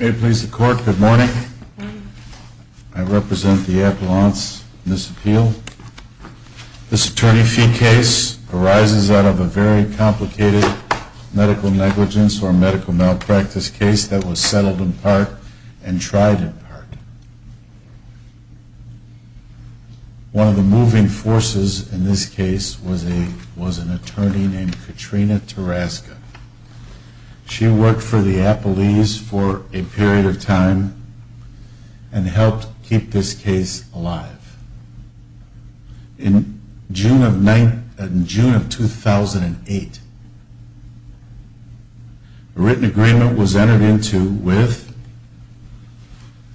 May it please the Court, good morning. I represent the Appellant's Court of Appeals, and I'm here This Attorney Fee case arises out of a very complicated medical negligence or medical malpractice case that was settled in part and tried in part. One of the moving forces in this case was an attorney named Katrina Taraska. She worked for the Appellees for a period of time and helped keep this case alive. In June of 2008, a written agreement was entered into with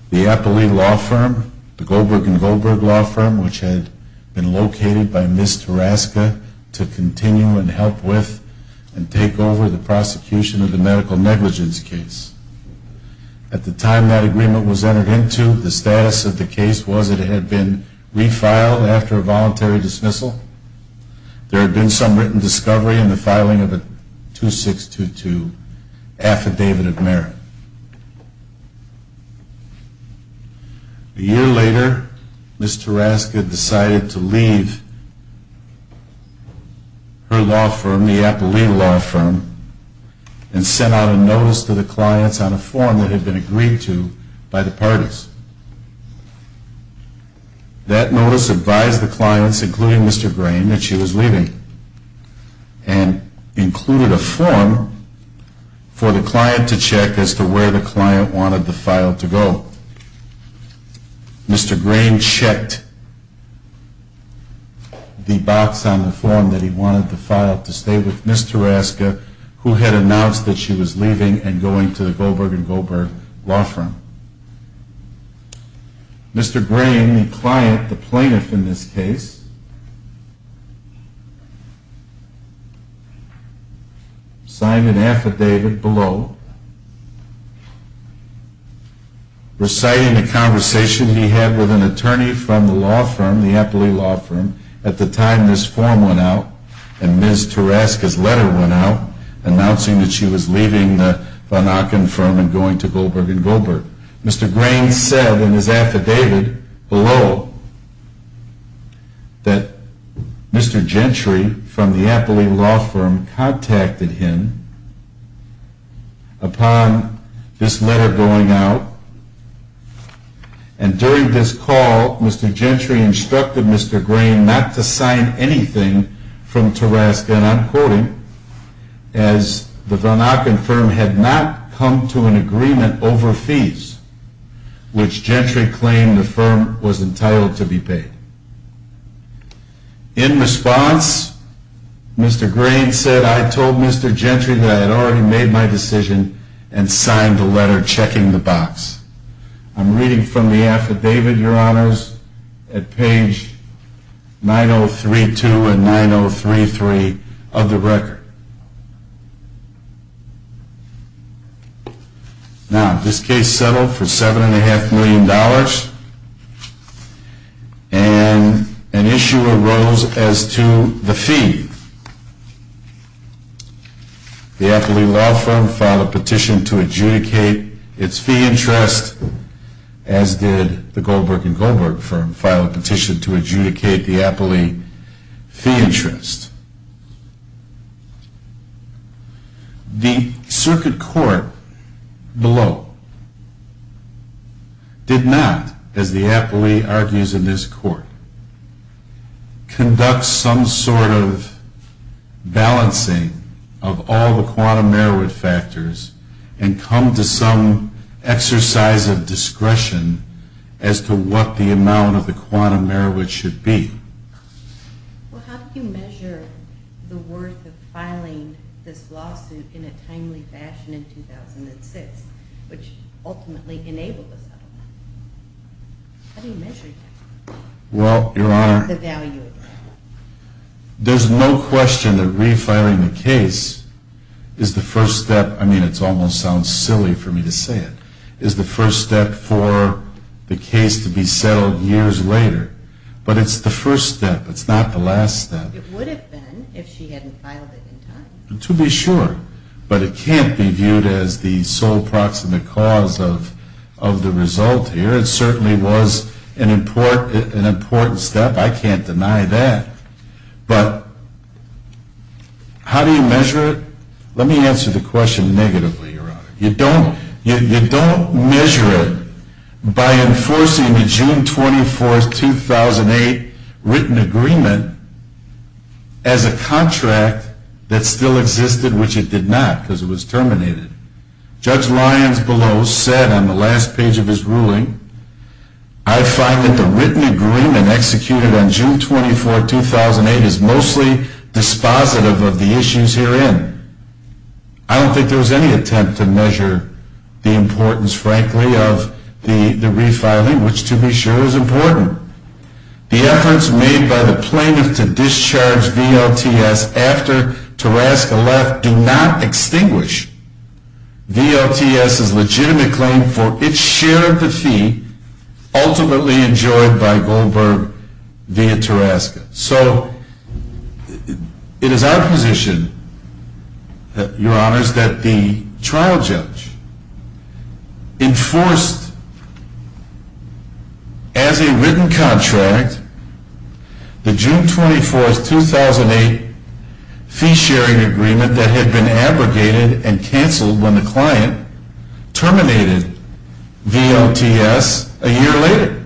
the Appellee Law Firm, the Goldberg & Goldberg Law Firm, which had been located by Ms. Taraska to continue and help with and take over the prosecution of the medical negligence case. At the time that agreement was entered into, the status of the case was that it had been refiled after a voluntary dismissal. There had been some written discovery in the filing of a 2622 Affidavit of Merit. A year later, Ms. Taraska decided to leave her law firm, the Appellee Law Firm, and sent out a notice to the clients on a form that had been agreed to by the parties. That notice advised the clients, including Mr. Grain, that she was leaving and included a form for the client to check as to where the client wanted the file to go. Mr. Grain checked the box on the form that he wanted the file to stay with Ms. Taraska, who had announced that she was leaving and going to the Goldberg & Goldberg Law Firm. Mr. Grain, the client, the plaintiff in this case, signed an affidavit below reciting a conversation he had with an attorney from the law firm, the Appellee Law Firm, at the time this form went out and Ms. Taraska's letter went out announcing that she was leaving the Von Aachen Firm and going to Goldberg & Goldberg. Mr. Grain said in his affidavit below that Mr. Gentry from the Appellee Law Firm contacted him upon this letter going out and during this call Mr. Gentry instructed Mr. Grain not to sign anything from Taraska and I'm quoting, As the Von Aachen Firm had not come to an agreement over fees, which Gentry claimed the firm was entitled to be paid. In response, Mr. Grain said, I told Mr. Gentry that I had already made my decision and signed the letter checking the box. I'm reading from the affidavit, your honors, at page 9032 and 9033 of the record. Now, this case settled for $7.5 million and an issue arose as to the fee. The Appellee Law Firm filed a petition to adjudicate its fee interest as did the Goldberg & Goldberg Firm filed a petition to adjudicate the Appellee fee interest. The circuit court below did not, as the Appellee argues in this court, conduct some sort of balancing of all the quantum Merowith factors and come to some exercise of discretion as to what the amount of the quantum Merowith should be. Well, how do you measure the worth of filing this lawsuit in a timely fashion in 2006, which ultimately enabled the settlement? How do you measure that? Well, your honor, there's no question that refiling the case is the first step. I mean, it almost sounds silly for me to say it, is the first step for the case to be settled years later. But it's the first step. It's not the last step. It would have been if she hadn't filed it in time. To be sure. But it can't be viewed as the sole proximate cause of the result here. It certainly was an important step. I can't deny that. But how do you measure it? Let me answer the question negatively, your honor. You don't measure it by enforcing the June 24, 2008 written agreement as a contract that still existed, which it did not because it was terminated. Judge Lyons below said on the last page of his ruling, I find that the written agreement executed on June 24, 2008 is mostly dispositive of the issues herein. I don't think there was any attempt to measure the importance, frankly, of the refiling, which to be sure is important. The efforts made by the plaintiff to discharge VLTS after Tarasca left do not extinguish VLTS's legitimate claim for its share of the fee ultimately enjoyed by Goldberg via Tarasca. So it is our position, your honors, that the trial judge enforced as a written contract the June 24, 2008 fee-sharing agreement that had been abrogated and canceled when the client terminated VLTS a year later.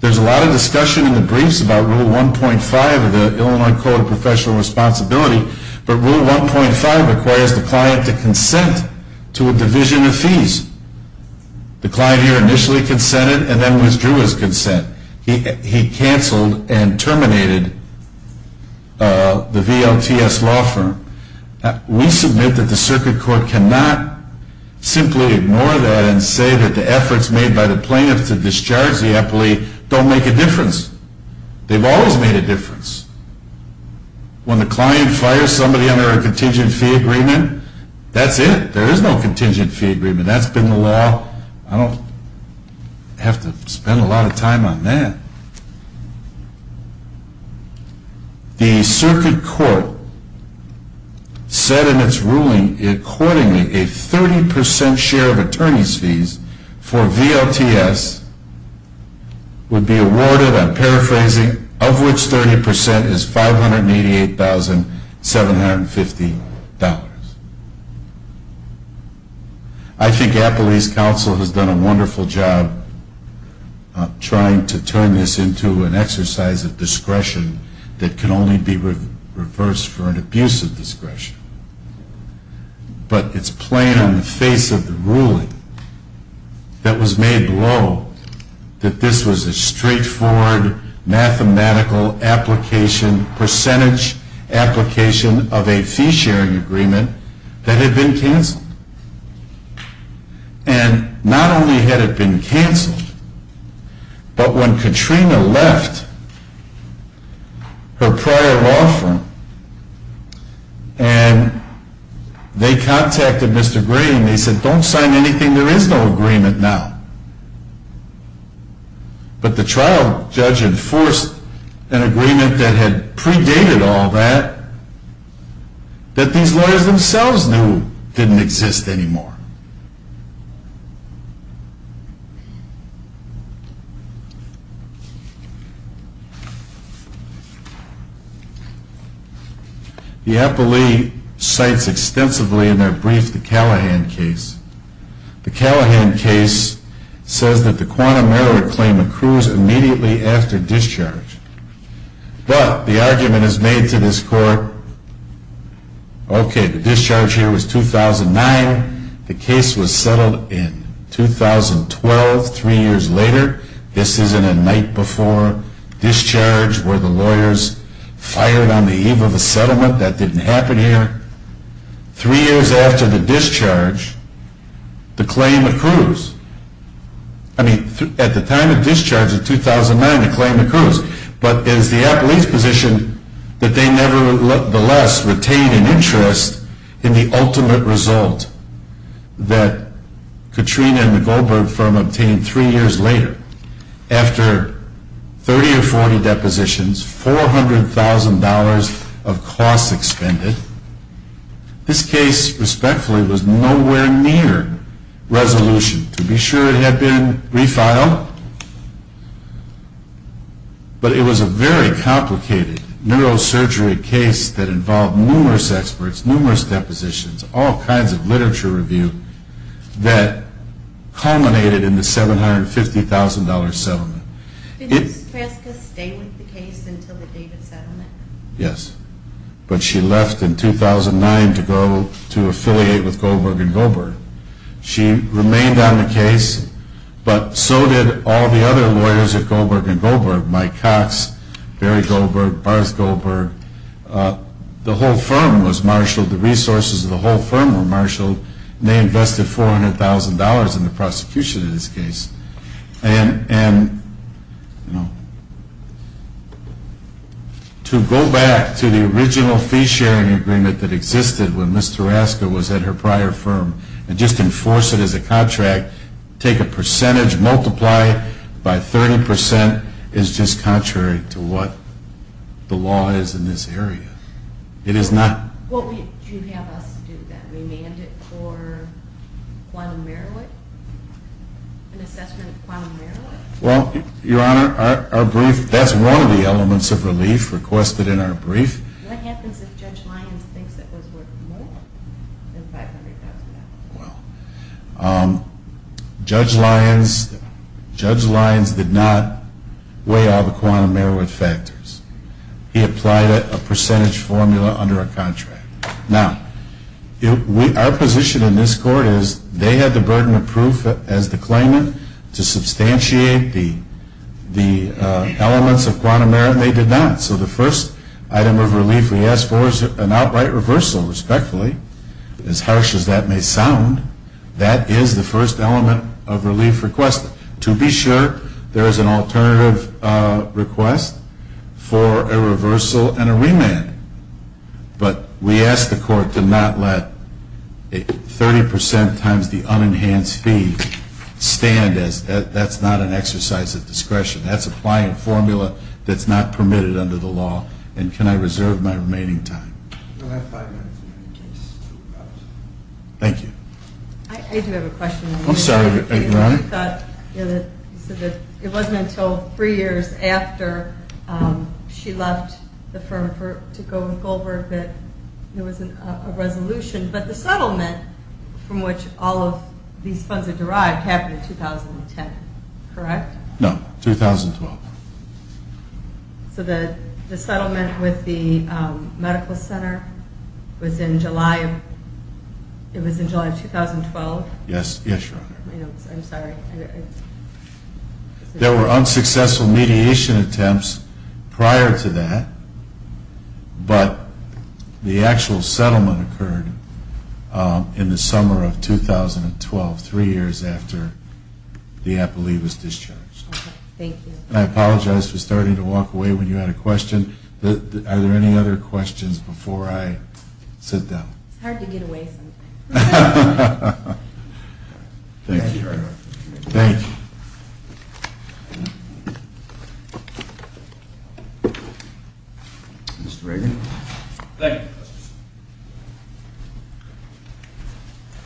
There is a lot of discussion in the briefs about Rule 1.5 of the Illinois Code of Professional Responsibility, but Rule 1.5 requires the client to consent to a division of fees. The client here initially consented and then withdrew his consent. He canceled and terminated the VLTS law firm. We submit that the circuit court cannot simply ignore that and say that the efforts made by the plaintiff to discharge the EPLI don't make a difference. They've always made a difference. When the client fires somebody under a contingent fee agreement, that's it. There is no contingent fee agreement. That's been the law. I don't have to spend a lot of time on that. The circuit court said in its ruling accordingly a 30 percent share of attorney's fees for VLTS would be awarded, I'm paraphrasing, of which 30 percent is $588,750. I think Appalachian Council has done a wonderful job trying to turn this into an exercise of discretion that can only be reversed for an abuse of discretion. But it's plain on the face of the ruling that was made below that this was a straightforward mathematical application, percentage application of a fee sharing agreement that had been canceled. And not only had it been canceled, but when Katrina left her prior law firm and they contacted Mr. Green, they said don't sign anything, there is no agreement now. But the trial judge enforced an agreement that had predated all that, that these lawyers themselves knew didn't exist anymore. The EPLI cites extensively in their brief the Callahan case. The Callahan case says that the quantum error claim accrues immediately after discharge. But the argument is made to this court, okay, the discharge here was 2009, the case was settled in 2012, three years later. This isn't a night before discharge where the lawyers fired on the eve of a settlement, that didn't happen here. Three years after the discharge, the claim accrues. I mean, at the time of discharge in 2009, the claim accrues. But is the appellate's position that they nevertheless retained an interest in the ultimate result that Katrina and the Goldberg firm obtained three years later? After 30 or 40 depositions, $400,000 of costs expended, this case respectfully was nowhere near resolution. To be sure, it had been refiled, but it was a very complicated neurosurgery case that involved numerous experts, numerous depositions, all kinds of literature review that culminated in the $750,000 settlement. Yes, but she left in 2009 to go to affiliate with Goldberg and Goldberg. She remained on the case, but so did all the other lawyers at Goldberg and Goldberg, Mike Cox, Barry Goldberg, Barth Goldberg. The whole firm was marshaled. The resources of the whole firm were marshaled, and they invested $400,000 in the prosecution of this case. And to go back to the original fee-sharing agreement that existed when Ms. Taraska was at her prior firm and just enforce it as a contract, take a percentage, multiply it by 30%, is just contrary to what the law is in this area. It is not... Well, do you have us do that? Remand it for quantum merit? An assessment of quantum merit? Well, Your Honor, our brief, that's one of the elements of relief requested in our brief. What happens if Judge Lyons thinks it was worth more than $500,000? Well, Judge Lyons did not weigh all the quantum merit factors. He applied a percentage formula under a contract. Now, our position in this court is they had the burden of proof as the claimant to substantiate the elements of quantum merit, and they did not. So the first item of relief we ask for is an outright reversal, respectfully. As harsh as that may sound, that is the first element of relief requested. To be sure, there is an alternative request for a reversal and a remand. But we ask the court to not let a 30% times the unenhanced fee stand as that's not an exercise of discretion. That's applying a formula that's not permitted under the law, and can I reserve my remaining time? Thank you. I do have a question. I'm sorry, Your Honor. You said that it wasn't until three years after she left the firm to go with Goldberg that there was a resolution, but the settlement from which all of these funds are derived happened in 2010, correct? No, 2012. So the settlement with the medical center was in July of 2012? Yes, Your Honor. I'm sorry. There were unsuccessful mediation attempts prior to that, but the actual settlement occurred in the summer of 2012, three years after the appellee was discharged. Okay. Thank you. I apologize for starting to walk away when you had a question. Are there any other questions before I sit down? It's hard to get away sometimes. Thank you, Your Honor. Thank you. Mr. Reagan. Thank you.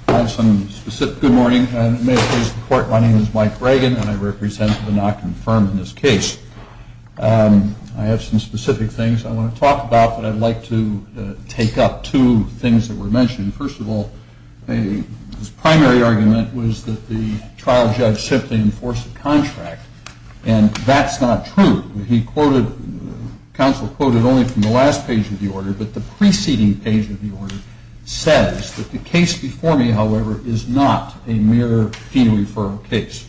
I have some specific things I want to talk about, but I'd like to take up two things that were mentioned. First of all, his primary argument was that the trial judge simply enforced a contract, and that's not true. He quoted, counsel quoted only from the last page of the order, but the precedent, says that the case before me, however, is not a mere fetal referral case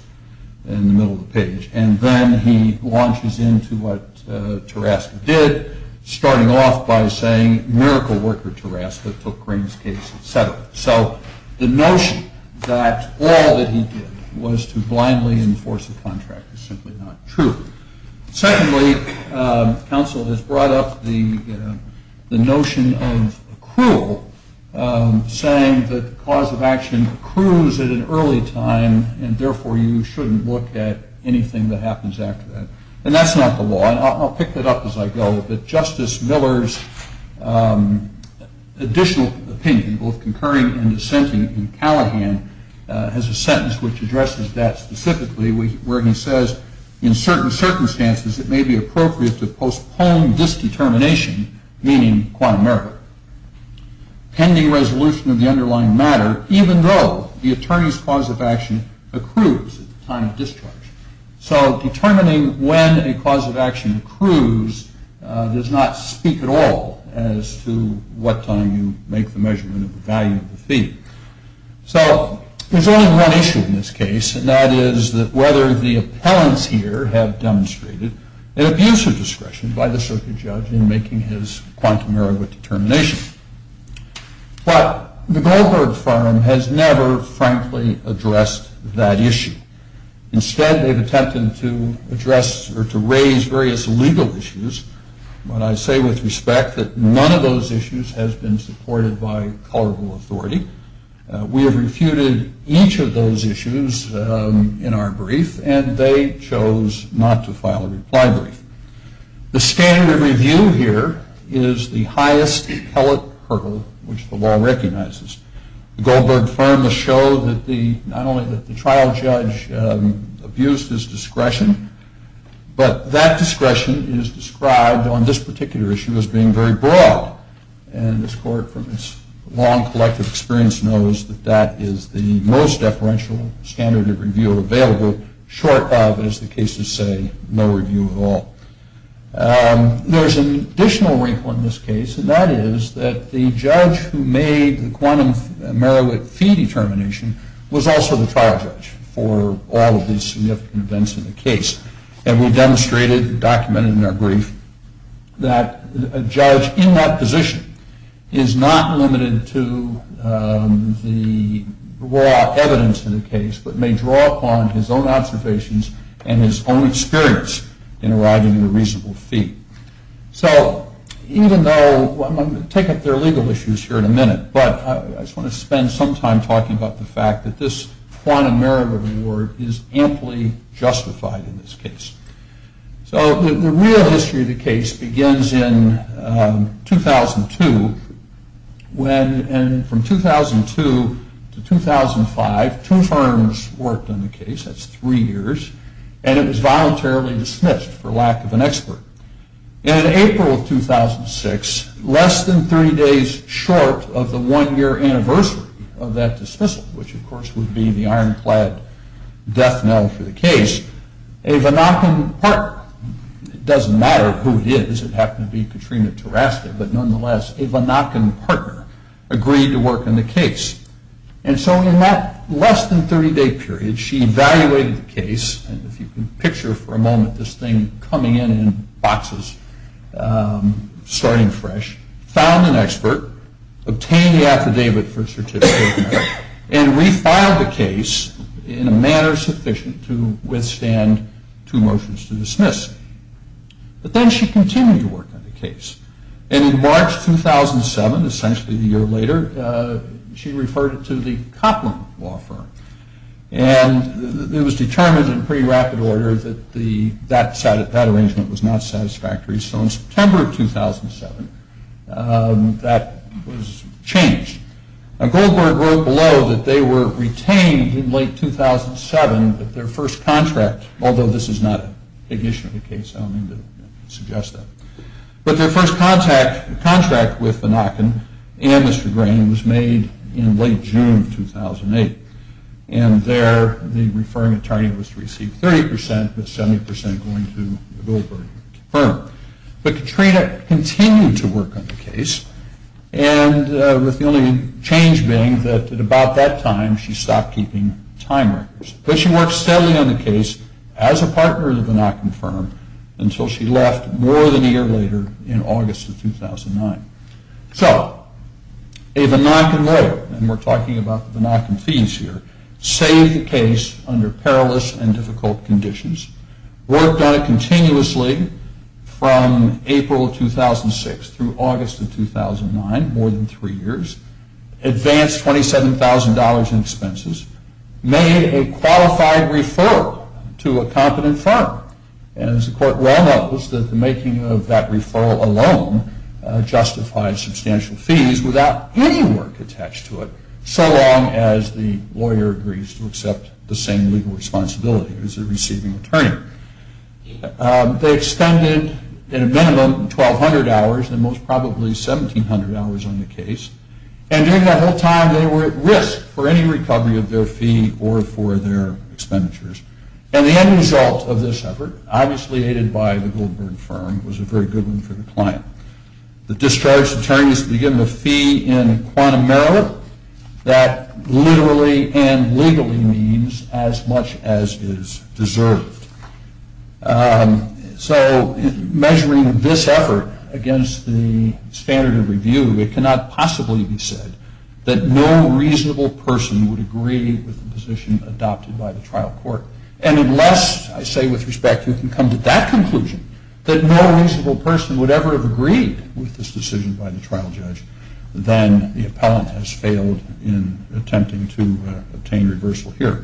in the middle of the page, and then he launches into what Tarasco did, starting off by saying, miracle worker Tarasco took Green's case, et cetera. So the notion that all that he did was to blindly enforce a contract is simply not true. Secondly, counsel has brought up the notion of accrual, saying that the cause of action accrues at an early time, and therefore you shouldn't look at anything that happens after that. And that's not the law, and I'll pick that up as I go, but Justice Miller's additional opinion, both concurring and dissenting in Callahan, has a sentence which addresses that specifically, where he says in certain circumstances it may be appropriate to postpone this determination, meaning quantum error, pending resolution of the underlying matter, even though the attorney's cause of action accrues at the time of discharge. So determining when a cause of action accrues does not speak at all as to what time you make the measurement of the value of the fee. So there's only one issue in this case, and that is whether the appellants here have demonstrated an abuse of discretion by the circuit judge in making his quantum error determination. But the Goldberg firm has never, frankly, addressed that issue. Instead, they've attempted to address or to raise various legal issues, but I say with respect that none of those issues has been supported by colorable authority. We have refuted each of those issues in our brief, and they chose not to file a reply brief. The standard of review here is the highest appellate hurdle which the law recognizes. The Goldberg firm has showed not only that the trial judge abused his discretion, but that discretion is described on this particular issue as being very broad, and this court, from its long collective experience, knows that that is the most deferential standard of review available, short of, as the cases say, no review at all. There's an additional wrinkle in this case, and that is that the judge who made the quantum merit fee determination was also the trial judge for all of these significant events in the case. And we've demonstrated, documented in our brief, that a judge in that position is not limited to the raw evidence in the case, but may draw upon his own observations and his own experience in arriving at a reasonable fee. So even though I'm going to take up their legal issues here in a minute, but I just want to spend some time talking about the fact that this quantum merit reward is amply justified in this case. So the real history of the case begins in 2002, and from 2002 to 2005, two firms worked on the case, that's three years, and it was voluntarily dismissed for lack of an expert. And in April of 2006, less than three days short of the one-year anniversary of that dismissal, which of course would be the ironclad death knell for the case, a Vanaken partner, it doesn't matter who it is, it happened to be Katrina Teraske, but nonetheless, a Vanaken partner agreed to work on the case. And so in that less than 30-day period, she evaluated the case, and if you can picture for a moment this thing coming in in boxes, starting fresh, found an expert, obtained the affidavit for certificate of merit, and refiled the case in a manner sufficient to withstand two motions to dismiss. But then she continued to work on the case. And in March 2007, essentially a year later, she referred it to the Coplin Law Firm. And it was determined in pretty rapid order that that arrangement was not satisfactory. So in September of 2007, that was changed. Goldberg wrote below that they were retained in late 2007 with their first contract, although this is not a big issue of the case, I don't mean to suggest that. But their first contract with Vanaken and Mr. Green was made in late June of 2008. And there the referring attorney was to receive 30%, with 70% going to the Goldberg firm. But Katrina continued to work on the case, and with the only change being that at about that time she stopped keeping time records. But she worked steadily on the case as a partner of the Vanaken firm until she left more than a year later in August of 2009. So a Vanaken lawyer, and we're talking about the Vanaken fees here, saved the case under perilous and difficult conditions, worked on it continuously from April 2006 through August of 2009, more than three years, advanced $27,000 in expenses, made a qualified referral to a competent firm. And as the court well knows, that the making of that referral alone justifies substantial fees without any work attached to it, so long as the lawyer agrees to accept the same legal responsibility as the receiving attorney. They expended, in a minimum, 1,200 hours, and most probably 1,700 hours on the case. And during that whole time they were at risk for any recovery of their fee or for their expenditures. And the end result of this effort, obviously aided by the Goldberg firm, was a very good one for the client. The discharged attorney is to be given a fee in quantum merit that literally and legally means as much as is deserved. So measuring this effort against the standard of review, it cannot possibly be said that no reasonable person would agree with the position adopted by the trial court. And unless, I say with respect, you can come to that conclusion, that no reasonable person would ever have agreed with this decision by the trial judge, then the appellant has failed in attempting to obtain reversal here.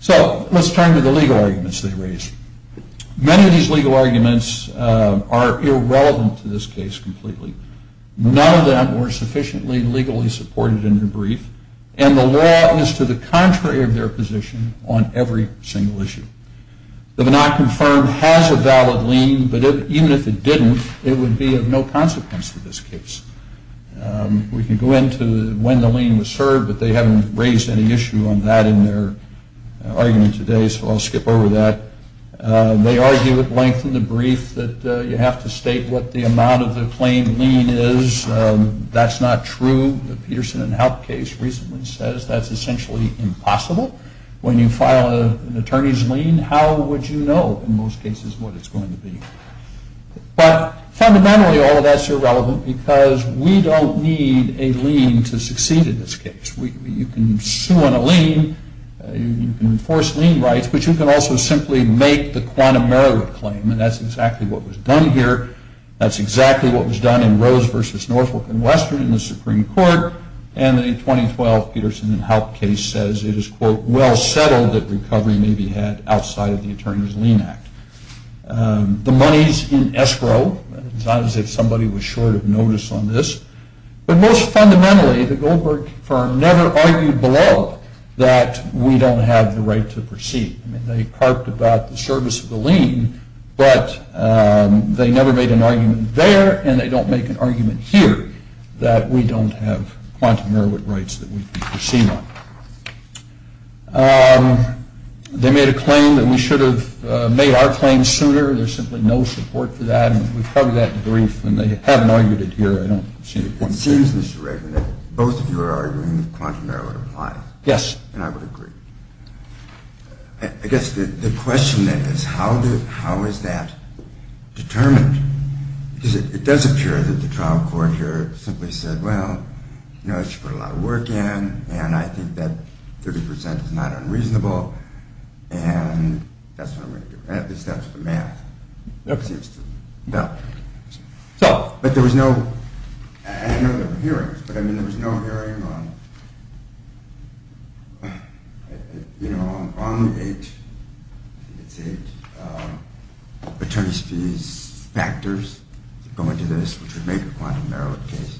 So let's turn to the legal arguments they raised. Many of these legal arguments are irrelevant to this case completely. None of them were sufficiently legally supported in their brief, and the law is to the contrary of their position on every single issue. The Bannock firm has a valid lien, but even if it didn't, it would be of no consequence to this case. We can go into when the lien was served, but they haven't raised any issue on that in their argument today, so I'll skip over that. They argue at length in the brief that you have to state what the amount of the plain lien is. That's not true. The Peterson and Haupt case recently says that's essentially impossible. When you file an attorney's lien, how would you know in most cases what it's going to be? But fundamentally, all of that's irrelevant because we don't need a lien to succeed in this case. You can sue on a lien, you can enforce lien rights, but you can also simply make the quantum error claim, and that's exactly what was done here. That's exactly what was done in Rose v. Northwark and Western in the Supreme Court, and the 2012 Peterson and Haupt case says it is, quote, well settled that recovery may be had outside of the attorney's lien act. The money's in escrow. It's not as if somebody was short of notice on this, but most fundamentally the Goldberg firm never argued below that we don't have the right to proceed. I mean, they harped about the service of the lien, but they never made an argument there and they don't make an argument here that we don't have quantum error rights that we can proceed on. They made a claim that we should have made our claim sooner. There's simply no support for that, and we've heard that in the brief, and they haven't argued it here, I don't see the point. It seems, Mr. Regan, that both of you are arguing that quantum error would apply. Yes. And I would agree. I guess the question is, how is that determined? Because it does appear that the trial court here simply said, well, you know, you should put a lot of work in, and I think that 30% is not unreasonable, and that's what I'm going to do. At least that's the math. No. But there was no, I know there were hearings, but I mean, there was no hearing on, you know, on H, I think it's H, attorney's fees factors going to this, which would make a quantum error case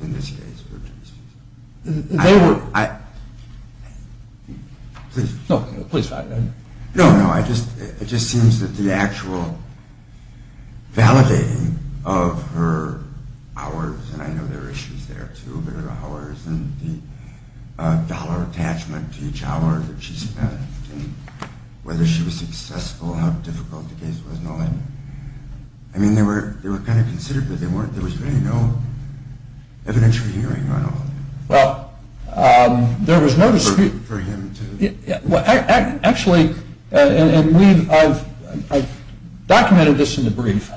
in this case. They were. Please. No, please. No, no. It just seems that the actual validating of her hours, and I know there are issues there, too, but her hours and the dollar attachment to each hour that she spent and whether she was successful and how difficult the case was and all that. I mean, they were kind of considered, but there was really no evidentiary hearing on all of it. Well, there was no dispute. Well, actually, and I've documented this in the brief,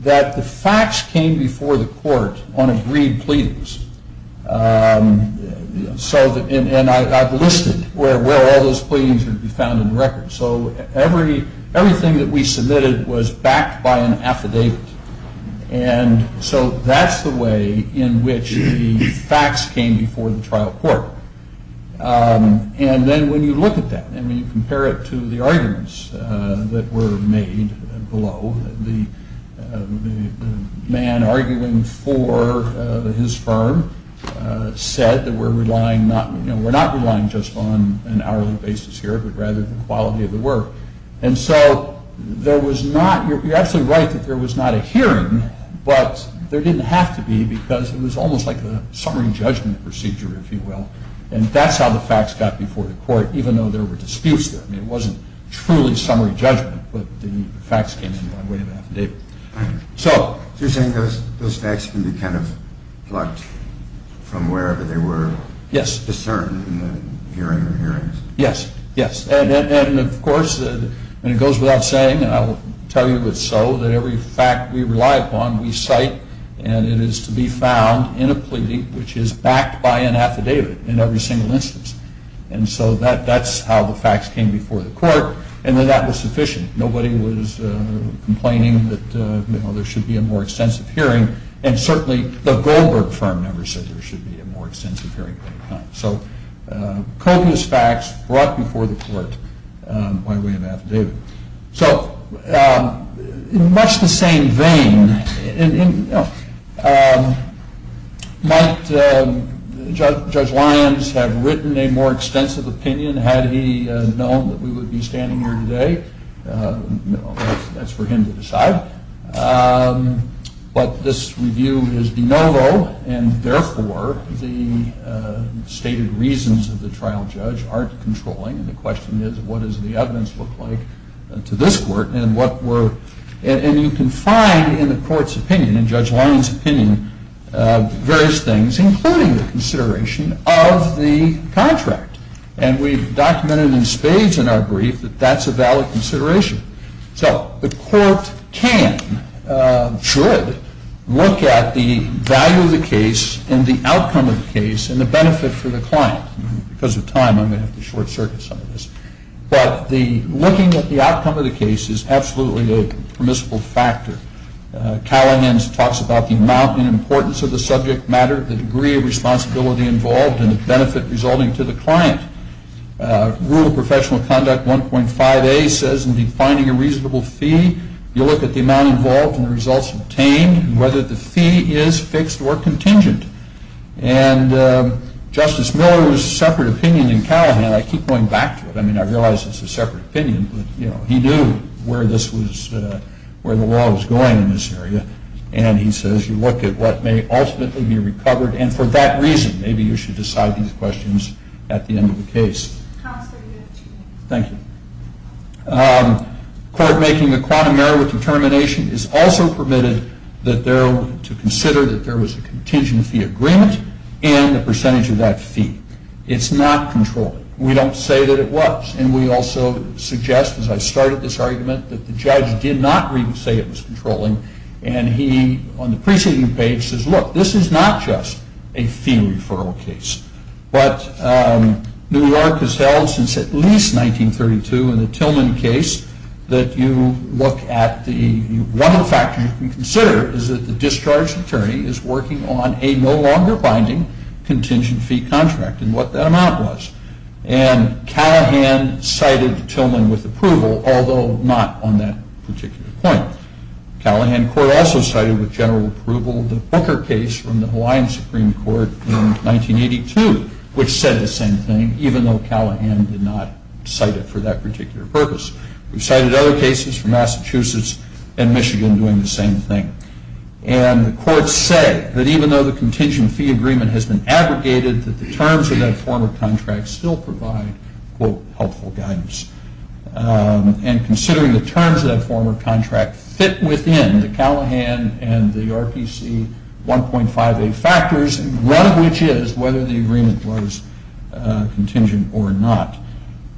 that the facts came before the court on agreed pleadings, and I've listed where all those pleadings would be found in the record. So everything that we submitted was backed by an affidavit, and so that's the way in which the facts came before the trial court, and then when you look at that and when you compare it to the arguments that were made below, the man arguing for his firm said that we're relying not, you know, we're not relying just on an hourly basis here, but rather the quality of the work, and so there was not, you're absolutely right that there was not a hearing, but there didn't have to be because it was almost like a summary judgment procedure, if you will, and that's how the facts got before the court, even though there were disputes there. I mean, it wasn't truly summary judgment, but the facts came in the way of an affidavit. So you're saying those facts can be kind of plucked from wherever they were discerned in the hearings? Yes, yes, and of course it goes without saying, and I will tell you it's so, that every fact we rely upon we cite, and it is to be found in a pleading which is backed by an affidavit in every single instance, and so that's how the facts came before the court, and then that was sufficient. Nobody was complaining that, you know, there should be a more extensive hearing, and certainly the Goldberg firm never said there should be a more extensive hearing. So copious facts brought before the court by way of affidavit. So in much the same vein, you know, might Judge Lyons have written a more extensive opinion had he known that we would be standing here today? That's for him to decide. But this review is de novo, and therefore the stated reasons of the trial judge aren't controlling, and the question is what does the evidence look like to this court, and you can find in the court's opinion, in Judge Lyons' opinion, various things including the consideration of the contract, and we've documented in spades in our brief that that's a valid consideration. So the court can, should, look at the value of the case and the outcome of the case and the benefit for the client. Because of time, I'm going to have to short circuit some of this. But looking at the outcome of the case is absolutely a permissible factor. Callaghan talks about the amount and importance of the subject matter, the degree of responsibility involved, and the benefit resulting to the client. Rule of Professional Conduct 1.5A says in defining a reasonable fee, you look at the amount involved and the results obtained, and whether the fee is fixed or contingent. And Justice Miller's separate opinion in Callaghan, I keep going back to it, I mean, I realize it's a separate opinion, but he knew where the law was going in this area, and he says you look at what may ultimately be recovered, and for that reason, maybe you should decide these questions at the end of the case. Thank you. Court making a quantum error with determination is also permitted to consider that there was a contingent fee agreement and a percentage of that fee. It's not controlling. We don't say that it was, and we also suggest, as I started this argument, that the judge did not say it was controlling, and he, on the preceding page, says look, this is not just a fee referral case, but New York has held since at least 1932 in the Tillman case that you look at the, one of the factors you can consider is that the discharged attorney is working on a no longer binding contingent fee contract, and what that amount was. And Callaghan cited Tillman with approval, although not on that particular point. Callaghan court also cited with general approval the Booker case from the Hawaiian Supreme Court in 1982, which said the same thing, even though Callaghan did not cite it for that particular purpose. We've cited other cases from Massachusetts and Michigan doing the same thing, and the court said that even though the contingent fee agreement has been aggregated, that the terms of that form of contract still provide, quote, helpful guidance. And considering the terms of that form of contract fit within the Callaghan and the RPC 1.58 factors, one of which is whether the agreement was contingent or not.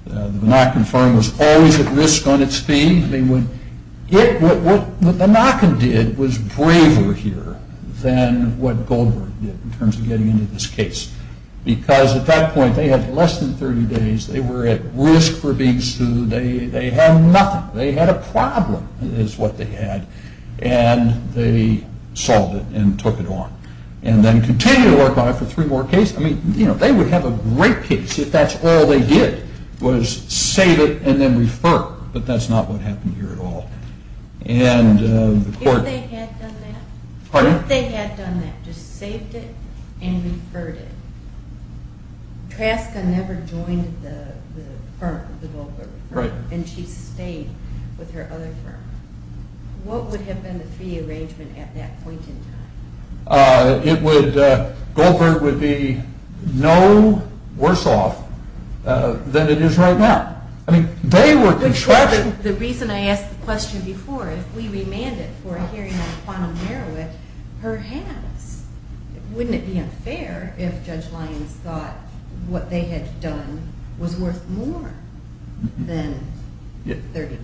The Binacken firm was always at risk on its fee. What Binacken did was braver here than what Goldberg did in terms of getting into this case, because at that point they had less than 30 days. They were at risk for being sued. They had nothing. They had a problem is what they had, and they solved it and took it on and then continued to work on it for three more cases. I mean, you know, they would have a great case if that's all they did was save it and then refer, but that's not what happened here at all. If they had done that? Pardon? If they had done that, just saved it and referred it. Traska never joined the firm, the Goldberg firm. Right. And she stayed with her other firm. What would have been the fee arrangement at that point in time? It would, Goldberg would be no worse off than it is right now. I mean, they were contracting. The reason I asked the question before, if we remanded for a hearing on Quantum Merowith, perhaps, wouldn't it be unfair if Judge Lyons thought what they had done was worth more than 30%?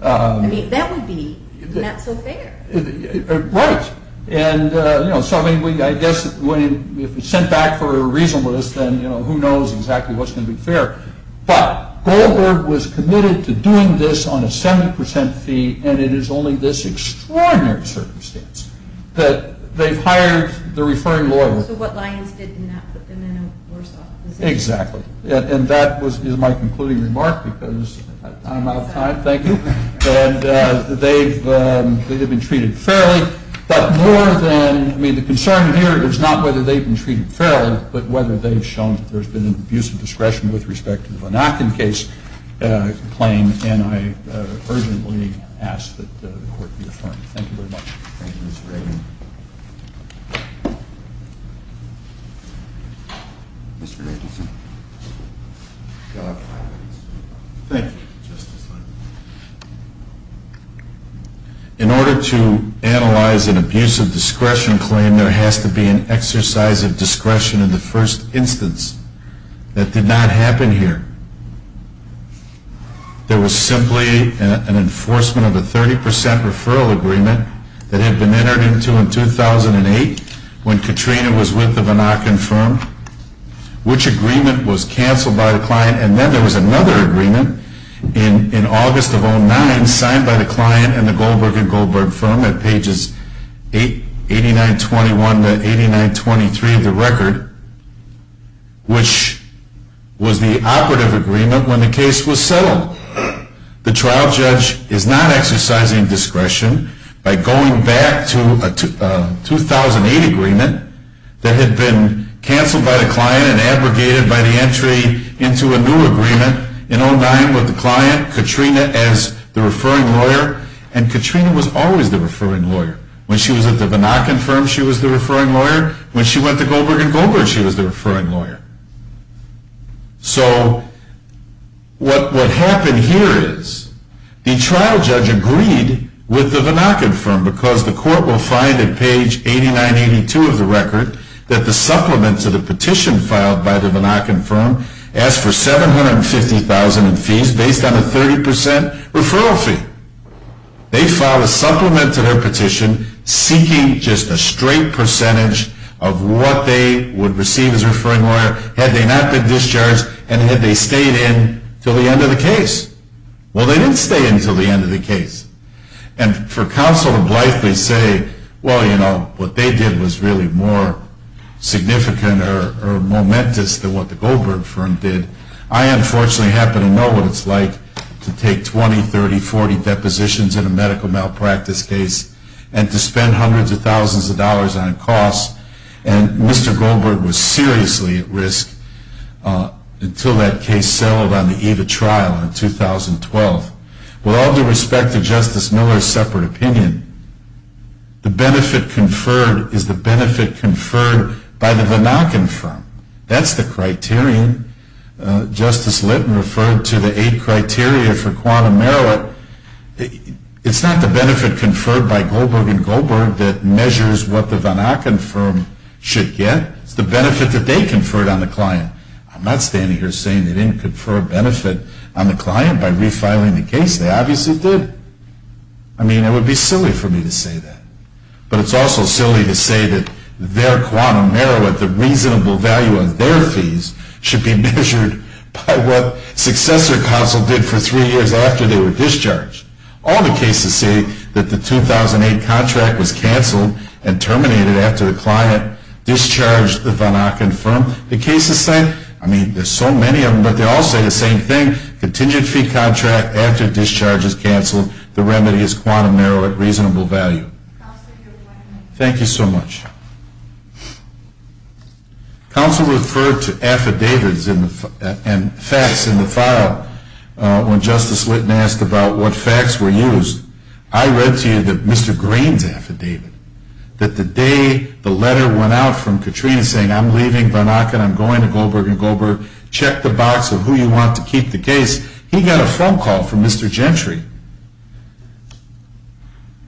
I mean, that would be not so fair. Right. And, you know, so I mean, I guess if it's sent back for a reasonableness, then, you know, who knows exactly what's going to be fair. But Goldberg was committed to doing this on a 70% fee, and it is only this extraordinary circumstance that they've hired the referring lawyer. So what Lyons did in that put them in a worse off position. Exactly. And that is my concluding remark because I'm out of time. Thank you. And they have been treated fairly. But more than, I mean, the concern here is not whether they've been treated fairly, but whether they've shown that there's been an abuse of discretion with respect to the Bannocken case claim. And I urgently ask that the Court be affirmed. Thank you very much. Thank you, Mr. Ragan. Mr. Anderson. Thank you, Justice Lyons. In order to analyze an abuse of discretion claim, there has to be an exercise of discretion in the first instance. That did not happen here. There was simply an enforcement of a 30% referral agreement that had been entered into in 2008 when Katrina was with the Bannocken firm. Which agreement was canceled by the client, and then there was another agreement in August of 2009 signed by the client and the Goldberg and Goldberg firm at pages 8921 to 8923 of the record, which was the operative agreement when the case was settled. The trial judge is not exercising discretion by going back to a 2008 agreement that had been canceled by the client and then abrogated by the entry into a new agreement in 2009 with the client, Katrina, as the referring lawyer. And Katrina was always the referring lawyer. When she was at the Bannocken firm, she was the referring lawyer. When she went to Goldberg and Goldberg, she was the referring lawyer. So what happened here is the trial judge agreed with the Bannocken firm because the court will find at page 8982 of the record that the supplement to the petition filed by the Bannocken firm asked for $750,000 in fees based on a 30% referral fee. They filed a supplement to their petition seeking just a straight percentage of what they would receive as a referring lawyer had they not been discharged and had they stayed in until the end of the case. Well, they didn't stay in until the end of the case. And for counsel to blithely say, well, you know, what they did was really more significant or momentous than what the Goldberg firm did, I unfortunately happen to know what it's like to take 20, 30, 40 depositions in a medical malpractice case and to spend hundreds of thousands of dollars on costs. And Mr. Goldberg was seriously at risk until that case settled on the eve of trial in 2012. With all due respect to Justice Miller's separate opinion, the benefit conferred is the benefit conferred by the Bannocken firm. That's the criterion. Justice Litton referred to the eight criteria for quantum merit. It's not the benefit conferred by Goldberg and Goldberg that measures what the Bannocken firm should get. It's the benefit that they conferred on the client. I'm not standing here saying they didn't confer a benefit on the client by refiling the case. They obviously did. I mean, it would be silly for me to say that. But it's also silly to say that their quantum merit, the reasonable value of their fees, should be measured by what successor counsel did for three years after they were discharged. All the cases say that the 2008 contract was canceled and terminated after the client discharged the Bannocken firm. The cases say, I mean, there's so many of them, but they all say the same thing. The contingent fee contract after discharge is canceled. The remedy is quantum merit, reasonable value. Thank you so much. Counsel referred to affidavits and facts in the file when Justice Litton asked about what facts were used. I read to you that Mr. Green's affidavit, that the day the letter went out from Katrina saying, I'm leaving Bannocken, I'm going to Goldberg and Goldberg, check the box of who you want to keep the case, he got a phone call from Mr. Gentry.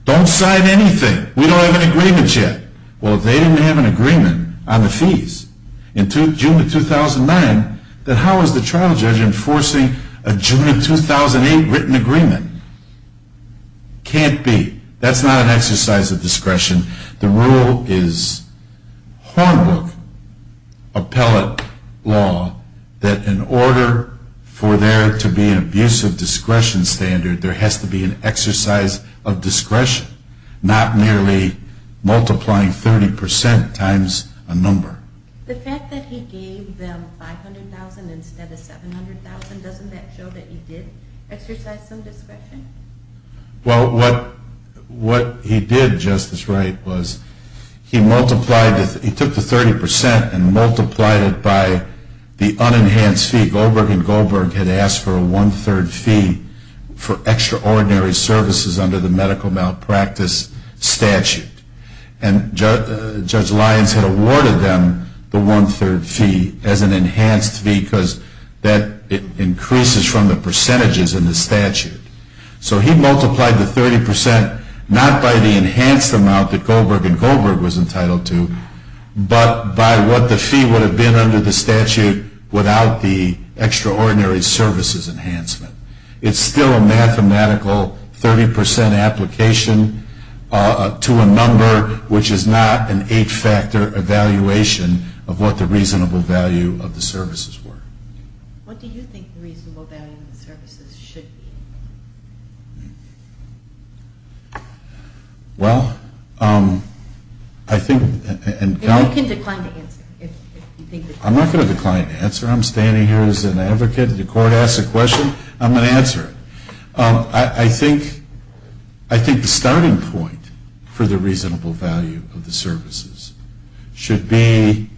Don't sign anything. We don't have an agreement yet. Well, if they didn't have an agreement on the fees in June of 2009, then how is the trial judge enforcing a June of 2008 written agreement? Can't be. That's not an exercise of discretion. The rule is Hornbook appellate law that in order for there to be an abusive discretion standard, there has to be an exercise of discretion, not merely multiplying 30% times a number. The fact that he gave them $500,000 instead of $700,000, doesn't that show that he did exercise some discretion? Well, what he did, Justice Wright, was he took the 30% and multiplied it by the unenhanced fee. Goldberg and Goldberg had asked for a one-third fee for extraordinary services under the medical malpractice statute. And Judge Lyons had awarded them the one-third fee as an enhanced fee because that increases from the percentages in the statute. So he multiplied the 30% not by the enhanced amount that Goldberg and Goldberg was entitled to, but by what the fee would have been under the statute without the extraordinary services enhancement. It's still a mathematical 30% application to a number which is not an eight-factor evaluation of what the reasonable value of the services were. What do you think the reasonable value of the services should be? Well, I think... And you can decline to answer if you think... I'm not going to decline to answer. I'm standing here as an advocate. If the court asks a question, I'm going to answer it. I think the starting point for the reasonable value of the services should be,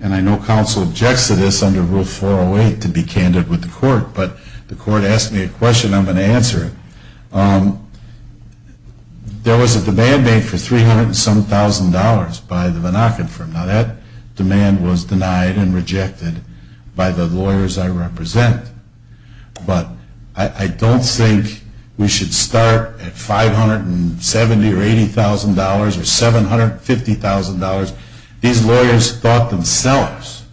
and I know counsel objects to this under Rule 408 to be candid with the court, but the court asked me a question, I'm going to answer it. There was a demand made for $300,000 and some thousand dollars by the Menachem firm. Now that demand was denied and rejected by the lawyers I represent, but I don't think we should start at $570,000 or $80,000 or $750,000. These lawyers thought themselves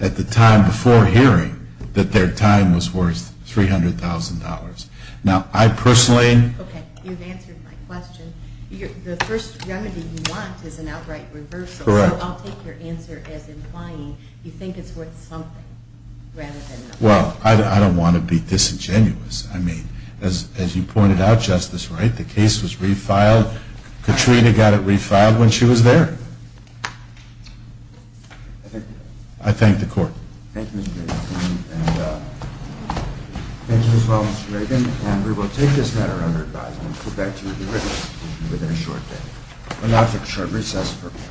at the time before hearing that their time was worth $300,000. Now I personally... Okay, you've answered my question. The first remedy you want is an outright reversal. Correct. So I'll take your answer as implying you think it's worth something rather than nothing. Well, I don't want to be disingenuous. I mean, as you pointed out, Justice Wright, the case was refiled. Katrina got it refiled when she was there. I thank the court. Thank you, Mr. Ragan. Thank you as well, Mr. Ragan. And we will take this matter under advisement and get back to you with a written statement within a short day. And that's a short recess for me.